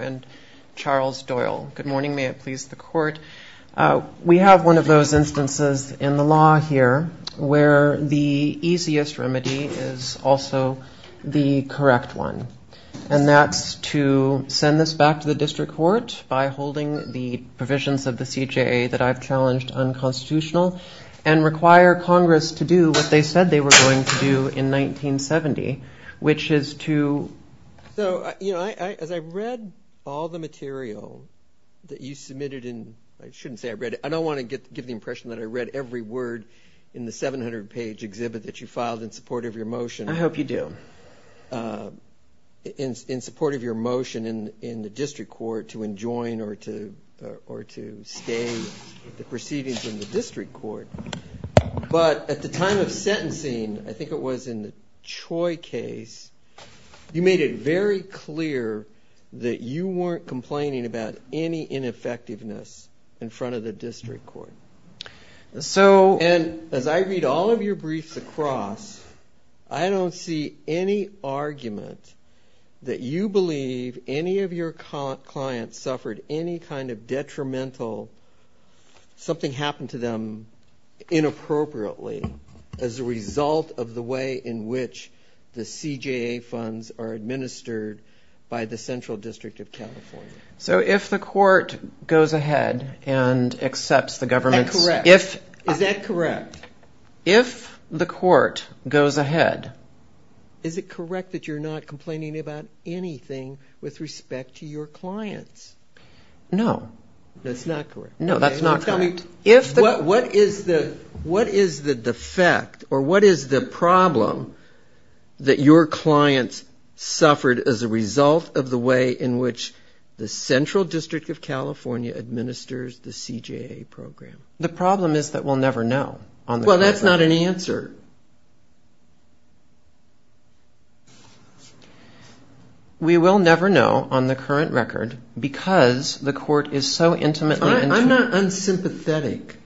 and Charles Doyle. Good morning, may it please the court. We have one of those instances in the law here where the easiest remedy is also the correct one, and that's to send this back to the district court by holding the provisions of the CJA that I've challenged unconstitutional and require Congress to do what they said they were going to do in 1970, which is to... So, you know, as I read all the material that you submitted in, I shouldn't say I read it, I don't want to give the impression that I read every word in the 700 page exhibit that you filed in support of your motion. I hope you do. In support of your motion in the district court to enjoin or to stay the proceedings in the district court. But at the time of sentencing, I think it was in the Choi case, you made it very clear that you weren't complaining about any ineffectiveness in front of the district court. And as I read all of your clients suffered any kind of detrimental, something happened to them inappropriately as a result of the way in which the CJA funds are administered by the Central District of California. So if the court goes ahead and accepts the government's... Is that correct? If the court goes ahead... Is it correct that you're not complaining about anything with respect to your clients? No, that's not correct. No, that's not correct. What is the defect or what is the problem that your clients suffered as a result of the way in which the Central District of California administers the CJA program? The problem is that we'll never know. Well, that's not an answer. We will never know on the current record because the court is so intimately... I'm not unsympathetic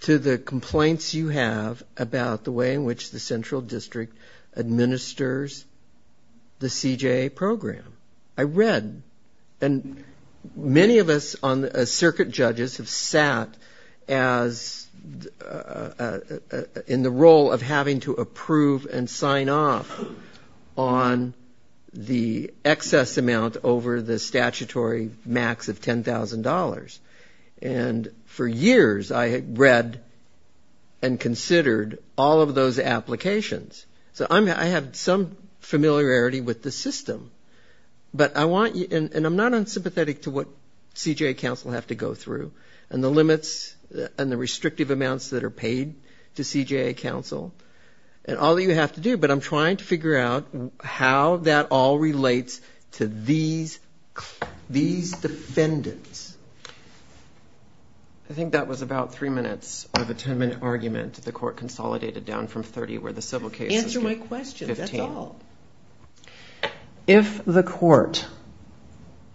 to the complaints you have about the way in which the Central District administers the CJA program. I read and many of us on the circuit judges have sat as in the role of having to approve and sign off on the excess amount over the statutory max of $10,000. And for years I had read and considered all of those applications. So I have some familiarity with the system. But I want you... And I'm not unsympathetic to what CJA counsel have to go through and the limits and the restrictive amounts that are paid to CJA counsel and all that you have to do. But I'm trying to figure out how that all relates to these defendants. I think that was about three minutes of a ten-minute argument. The court consolidated down from 30 where the civil case... Answer my question. That's all. If the court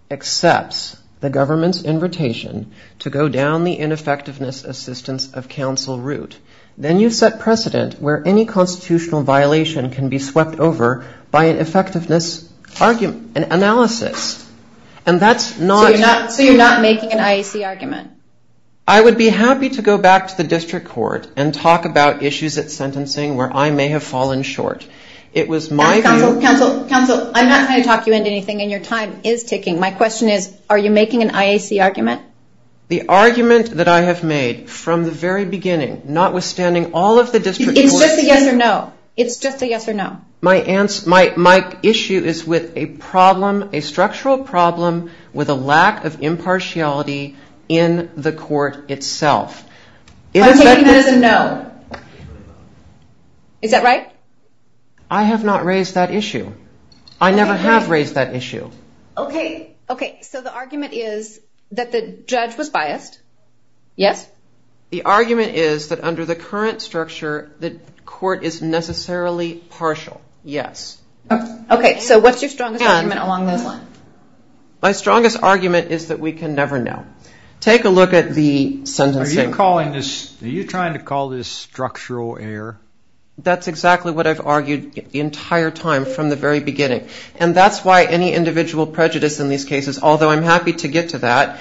accepts the government's invitation to go down the ineffectiveness assistance of counsel route, then you set precedent where any constitutional violation can be swept over by an effectiveness analysis. And that's not... So you're not making an IAC argument? I would be happy to go back to the district court and talk about issues at sentencing where I may have fallen short. It was my view... Counsel, counsel, counsel, I'm not going to talk you into anything and your time is ticking. My question is, are you making an IAC argument? The argument that I have made from the very beginning, notwithstanding all of the district... It's just a yes or no. It's just a yes or no. My issue is with a problem, a structural problem with a lack of impartiality in the court itself. I'm taking that as a no. Is that right? I have not raised that issue. I never have raised that issue. Okay. Okay. So the argument is that the judge was not impartial. The argument is that under the current structure, the court is necessarily partial. Yes. Okay. So what's your strongest argument along those lines? My strongest argument is that we can never know. Take a look at the sentencing. Are you calling this... Are you trying to call this structural error? That's exactly what I've argued the entire time from the very beginning. And that's why any individual prejudice in these cases, although I'm happy to get to that,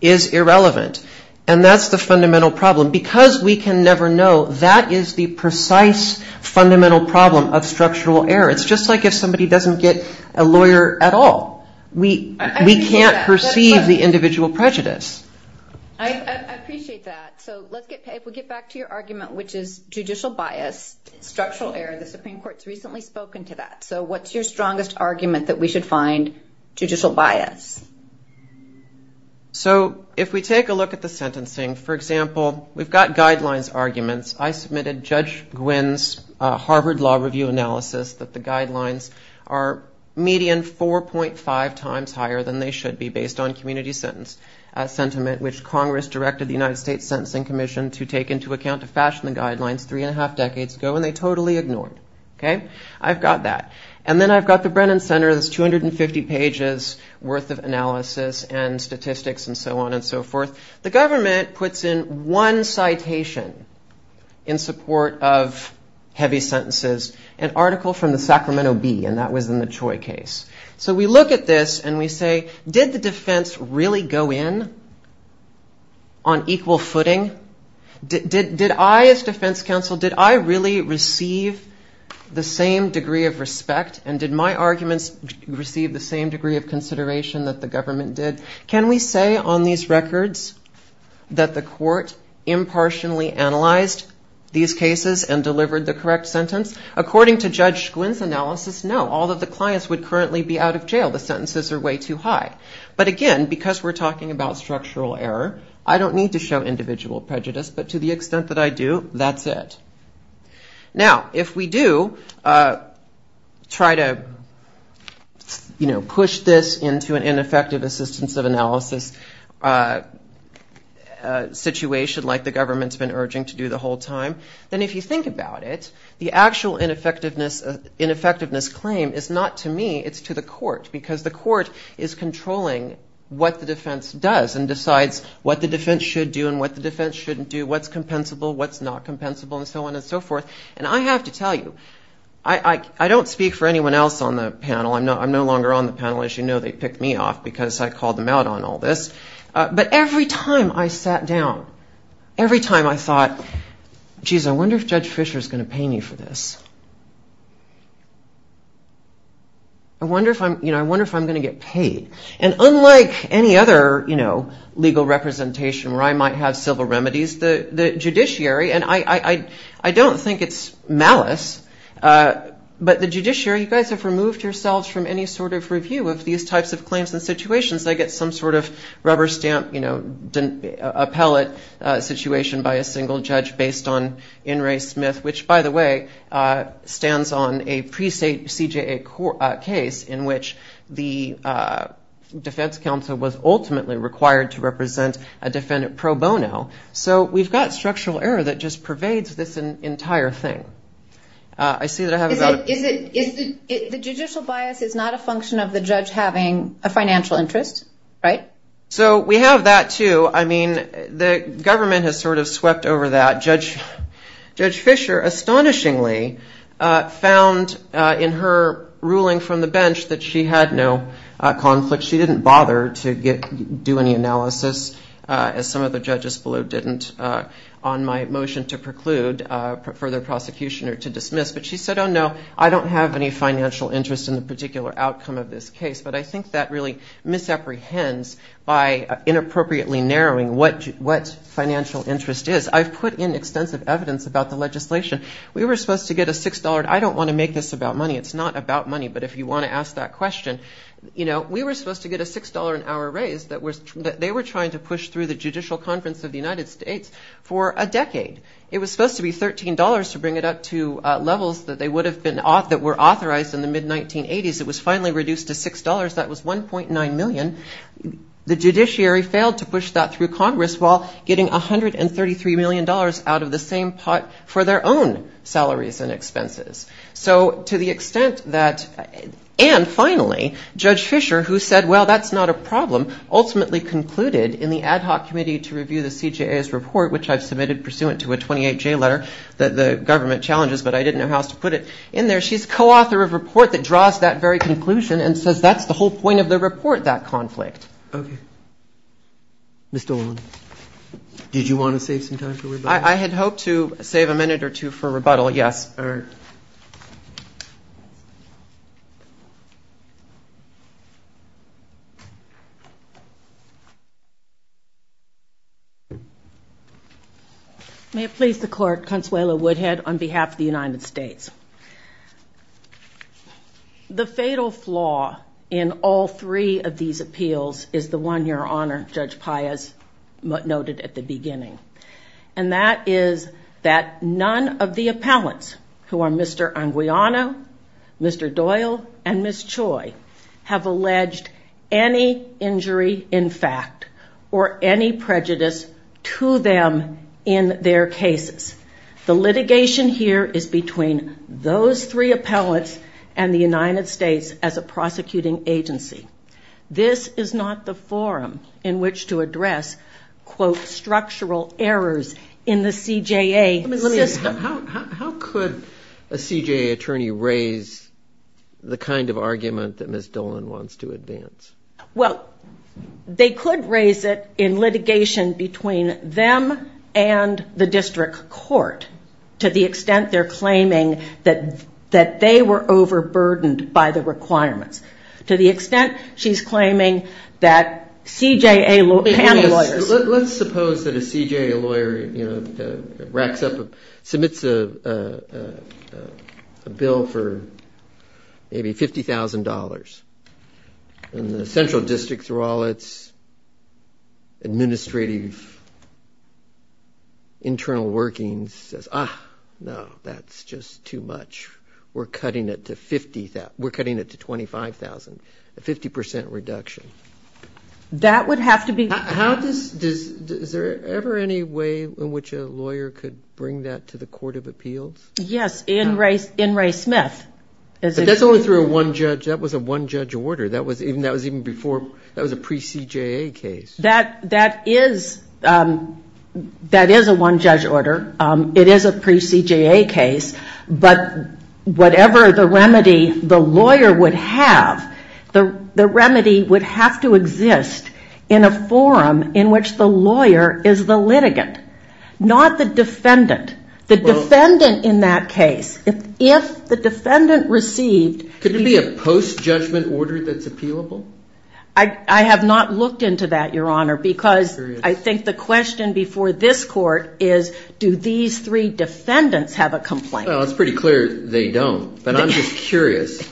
is irrelevant. And that's the fundamental problem. Because we can never know, that is the precise fundamental problem of structural error. It's just like if somebody doesn't get a lawyer at all. We can't perceive the individual prejudice. I appreciate that. So if we get back to your argument, which is judicial bias, structural error, the Supreme Court's recently spoken to that. So what's your strongest argument that we should find judicial bias? So if we take a look at the sentencing, for example, we've got guidelines arguments. I submitted Judge Gwynne's Harvard Law Review analysis that the guidelines are median 4.5 times higher than they should be based on community sentiment, which Congress directed the United States Sentencing Commission to take into account to fashion the guidelines three and a half decades ago. And they totally ignored. OK, I've got that. And then I've got the Brennan Center's 250 pages worth of analysis and statistics and so on and so forth. The government puts in one citation in support of heavy sentences, an article from the Sacramento Bee. And that was in the Choi case. So we look at this and we say, did the defense really go in on equal footing? Did I, as defense counsel, did I really receive the same degree of respect and did my arguments receive the same degree of consideration that the government did? Can we say on these records that the court impartially analyzed these cases and delivered the correct sentence? According to Judge Gwynne's analysis, no, all of the clients would currently be out of jail. The sentences are way too high. But again, because we're talking about structural error, I don't need to show individual prejudice. But to the extent that I do, that's it. Now, if we do try to push this into an ineffective assistance of analysis situation like the government's been urging to do the whole time, then if you think about it, the actual ineffectiveness claim is not to me, it's to the court. Because the court is controlling what the defense does and decides what the defense should do and what the defense shouldn't do, what's compensable, what's not compensable, and so on and so forth. And I have to tell you, I don't speak for anyone else on the panel. I'm no longer on the panel. As you know, they picked me off because I called them out on all this. But every time I sat down, every time I thought, jeez, I wonder if Judge Fisher's going to pay me for this. I wonder if I'm going to get paid. And unlike any other legal representation where I might have civil remedies, the judiciary, and I don't think it's malice, but the judiciary, you guys have removed yourselves from any sort of review of these types of claims and situations. I get some sort of rubber stamp appellate situation by a single judge based on In re Smith, which, by the way, stands on a pre-state CJA case in which the defense counsel was ultimately required to represent a defendant pro bono. So we've got structural error that just pervades this entire thing. The judicial bias is not a function of the judge having a financial interest, right? So we have that, too. I mean, the government has sort of swept over that. Judge Fisher, astonishingly, found in her ruling from the bench that she had no conflict. She didn't bother to do any analysis, as some of the judges below didn't, on my motion to preclude further prosecution or to dismiss, but she said, oh, no, I don't have any financial interest in the particular outcome of this case. But I think that really misapprehends by inappropriately narrowing what financial interest is. I've put in extensive evidence about the legislation. We were supposed to get a $6. I don't want to make this about money. It's not about money. But if you want to ask that question, you know, we were supposed to get a $6 an hour raise that they were trying to push through the Judicial Conference of the United States for a decade. It was supposed to be $13 to bring it up to levels that they would have been, that were authorized in the mid-1980s. It was finally reduced to $6. That was $1.9 million. The judiciary failed to push that through Congress while getting $133 million out of the same pot for their own salaries and expenses. So to the extent that, and finally, Judge Fisher, who said, well, that's not a problem, ultimately concluded in the ad hoc committee to review the CJA's report, which I've submitted pursuant to a 28-J letter that the government challenges, but I didn't know how else to put it in there. She's co-author of a report that draws that very conclusion and says that's the whole point of the report, that conflict. Okay. Ms. Dolan, did you want to save some time for rebuttal? I had hoped to save a minute or two for rebuttal, yes. All right. May it please the court, Consuelo Woodhead, on behalf of the United States. The fatal flaw in all three of these appeals is the one, Your Honor, Judge Pius noted at the beginning, and that is that none of the appellants, who are Mr. Anguiano, Mr. Doyle, and Ms. Choi, have alleged any injury in fact or any prejudice to them in their cases. The litigation here is between those three appellants and the United States as a prosecuting agency. This is not the forum in which to address, quote, structural errors in the CJA system. How could a CJA attorney raise the kind of argument that Ms. Dolan wants to advance? Well, they could raise it in litigation between them and the district court, to the extent they're claiming that they were overburdened by the requirements. To the extent she's claiming that CJA panel lawyers... If it's a bill for maybe $50,000, and the central district, through all its administrative internal workings, says, ah, no, that's just too much, we're cutting it to $25,000, a 50% reduction. That would have to be... Is there ever any way in which a lawyer could bring that to the Court of Appeals? Yes, in Ray Smith. But that's only through a one-judge, that was a one-judge order. That was even before, that was a pre-CJA case. That is a one-judge order, it is a pre-CJA case, but whatever the remedy the lawyer would have, the remedy would have to exist in a forum in which the lawyer is the litigant, not the defendant. The defendant in that case, if the defendant received... Could it be a post-judgment order that's appealable? I have not looked into that, Your Honor, because I think the question before this Court is, do these three defendants have a complaint? Well, it's pretty clear they don't, but I'm just curious.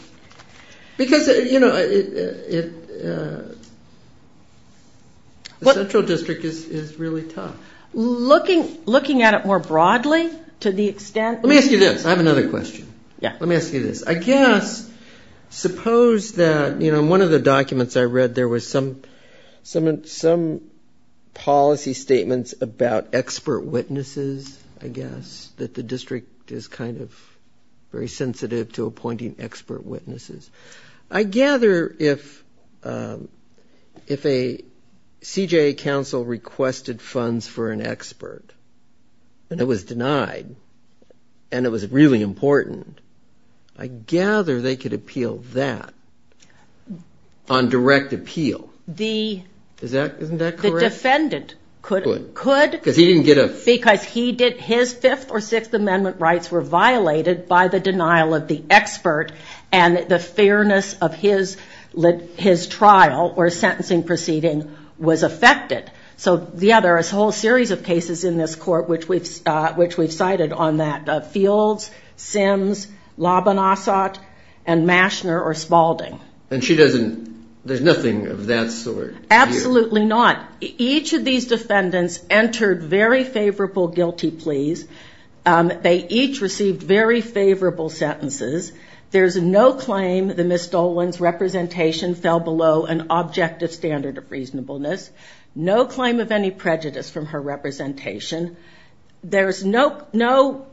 Because, you know, the Central District is really tough. Looking at it more broadly, to the extent... Let me ask you this, I have another question. Let me ask you this. I guess, suppose that, in one of the documents I read, there was some policy statements about expert witnesses, I guess, that the district is kind of very sensitive to appointing expert witnesses. I gather if a CJA counsel requested funds for an expert, and it was denied, and it was really important, I gather they could appeal that on direct appeal. Isn't that correct? Could. Because his Fifth or Sixth Amendment rights were violated by the denial of the expert, and the fairness of his trial or sentencing proceeding was affected. So, yeah, there's a whole series of cases in this Court which we've cited on that. Fields, Sims, Labanassat, and Maschner or Spaulding. And there's nothing of that sort here? Absolutely not. Each of these defendants entered very favorable guilty pleas. They each received very favorable sentences. There's no claim that Ms. Dolan's representation fell below an objective standard of reasonableness. No claim of any prejudice from her representation. There's no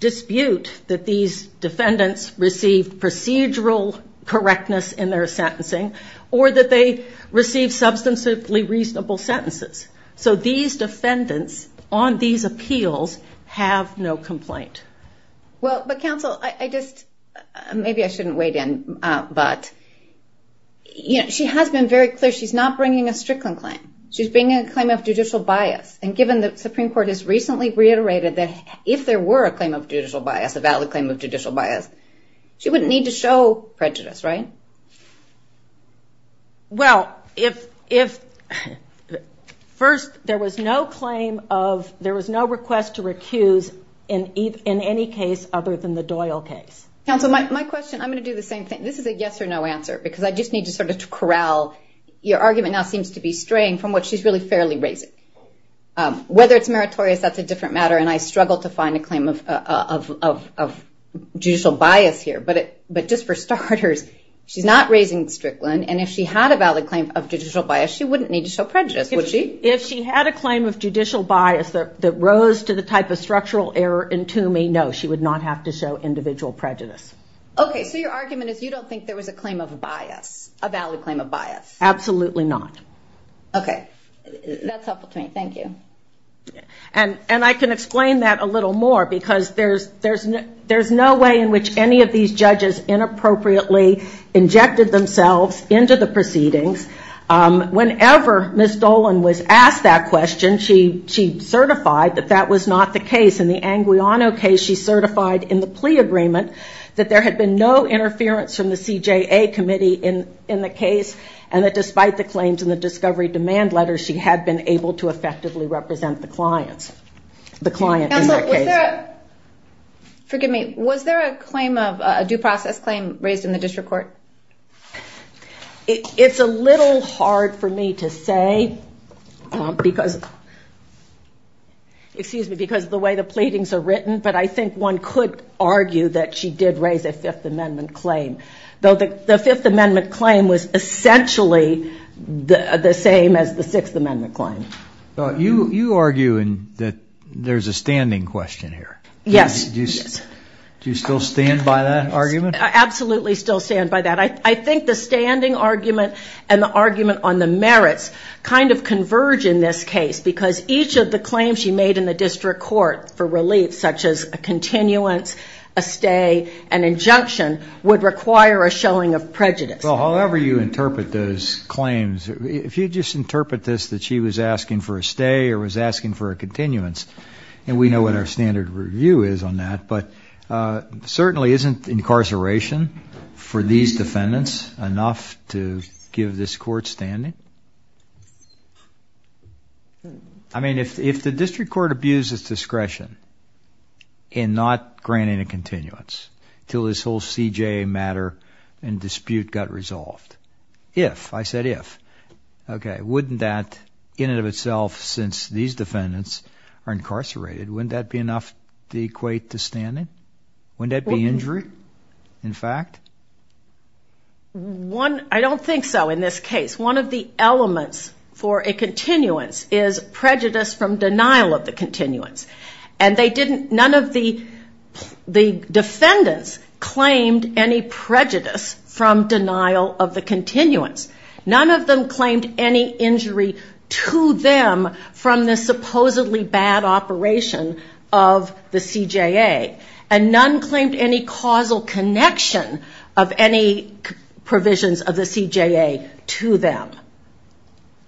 dispute that these defendants received procedural correctness in their sentencing, or that they received substantively reasonable sentences. So these defendants on these appeals have no complaint. Well, but counsel, maybe I shouldn't wade in, but she has been very clear. She's not bringing a Strickland claim. She's bringing a claim of judicial bias. And given the Supreme Court has recently reiterated that if there were a claim of judicial bias, a valid claim of judicial bias, she wouldn't need to show prejudice, right? Well, first, there was no request to recuse in any case other than the Doyle case. Counsel, my question, I'm going to do the same thing. This is a yes or no answer, because I just need to sort of corral. Your argument now seems to be straying from what she's really fairly raising. Whether it's meritorious, that's a different matter, and I struggle to find a claim of judicial bias here. But just for starters, she's not raising Strickland, and if she had a valid claim of judicial bias, she wouldn't need to show prejudice, would she? If she had a claim of judicial bias that rose to the type of structural error in Toomey, no, she would not have to show individual prejudice. Okay, so your argument is you don't think there was a claim of bias, a valid claim of bias? Absolutely not. Okay, that's helpful to me. Thank you. And I can explain that a little more, because there's no way in which any of these judges inappropriately injected themselves into the proceedings. Whenever Ms. Dolan was asked that question, she certified that that was not the case. In the Anguiano case, she certified in the plea agreement that there had been no interference from the CJA committee in the case, and that despite the claims in the discovery demand letter, she had been able to effectively represent the client in that case. Counsel, was there a due process claim raised in the district court? It's a little hard for me to say because of the way the pleadings are written, but I think one could argue that she did raise a Fifth Amendment claim. Though the Fifth Amendment claim was essentially the same as the Sixth Amendment claim. You argue that there's a standing question here. Yes. Do you still stand by that argument? Absolutely still stand by that. I think the standing argument and the argument on the merits kind of converge in this case, because each of the claims she made in the district court for relief, such as a continuance, a stay, an injunction, would require a showing of prejudice. Well, however you interpret those claims, if you just interpret this that she was asking for a stay or was asking for a continuance, and we know what our standard review is on that, but certainly isn't incarceration for these defendants enough to give this court standing? I mean, if the district court abuses discretion in not granting a continuance until this whole CJA matter and dispute got resolved, if, I said if, wouldn't that in and of itself, since these defendants are incarcerated, wouldn't that be enough to equate to standing? Wouldn't that be injury, in fact? I don't think so in this case. One of the elements for a continuance is prejudice from denial of the continuance. And they didn't, none of the defendants claimed any prejudice from denial of the continuance. None of them claimed any injury to them from the supposedly bad operation of the CJA. And none claimed any causal connection of any provisions of the CJA to them.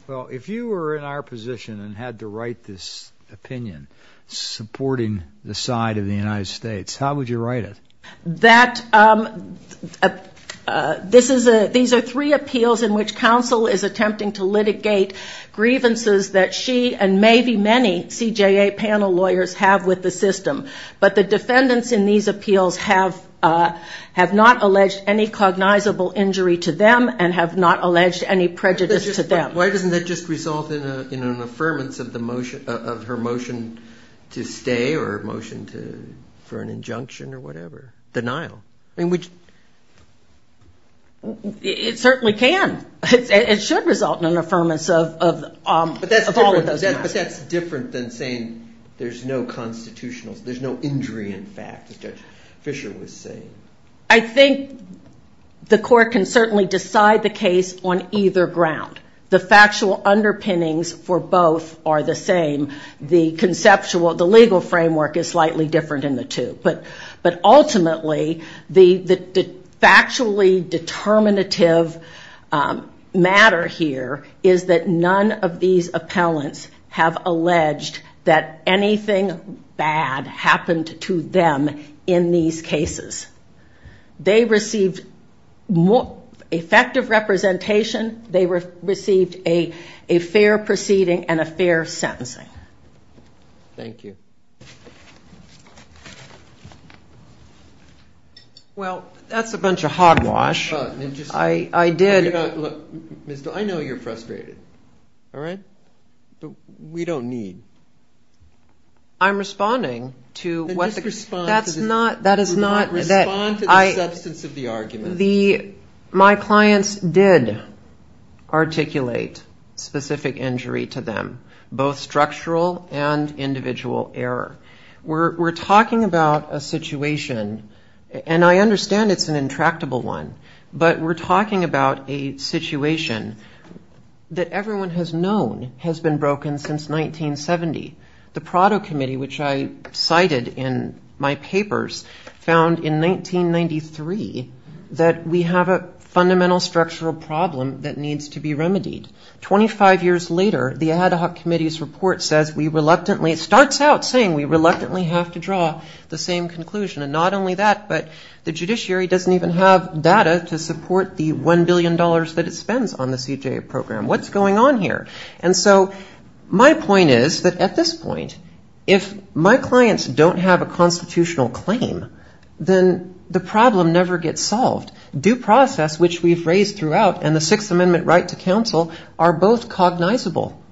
Well, if you were in our position and had to write this opinion, supporting the side of the United States, how would you write it? That, this is a, these are three appeals in which counsel is attempting to litigate grievances that she and maybe many CJA panel lawyers have with the system. But the defendants in these appeals have not alleged any cognizable injury to them and have not alleged any prejudice to them. Why doesn't that just result in an affirmance of her motion to stay or motion for an injunction or whatever, denial? It certainly can. It should result in an affirmance of all of those matters. But that's different than saying there's no constitutionals, there's no injury in fact, as Judge Fisher was saying. I think the court can certainly decide the case on either ground. The factual underpinnings for both are the same. The conceptual, the legal framework is slightly different in the two. But ultimately, the factually determinative matter here is that none of these appellants have alleged that anything bad happened to them in these cases. They received effective representation. They received a fair proceeding and a fair sentencing. Thank you. Well, that's a bunch of hogwash. I know you're frustrated, all right, but we don't need. I'm responding to what the... Respond to the substance of the argument. My clients did articulate specific injury to them, both structural and individual error. We're talking about a situation, and I understand it's an intractable one, but we're talking about a situation that everyone has known has been broken since 1970. The Prado Committee, which I cited in my papers, found in 1993 that there was a situation that we have a fundamental structural problem that needs to be remedied. 25 years later, the Ad Hoc Committee's report says we reluctantly... It starts out saying we reluctantly have to draw the same conclusion, and not only that, but the judiciary doesn't even have data to support the $1 billion that it spends on the CJA program. What's going on here? And so my point is that at this point, if my clients don't have a constitutional claim, then the problem never gets solved. Due process, which we've raised throughout, and the Sixth Amendment right to counsel are both cognizable. Okay.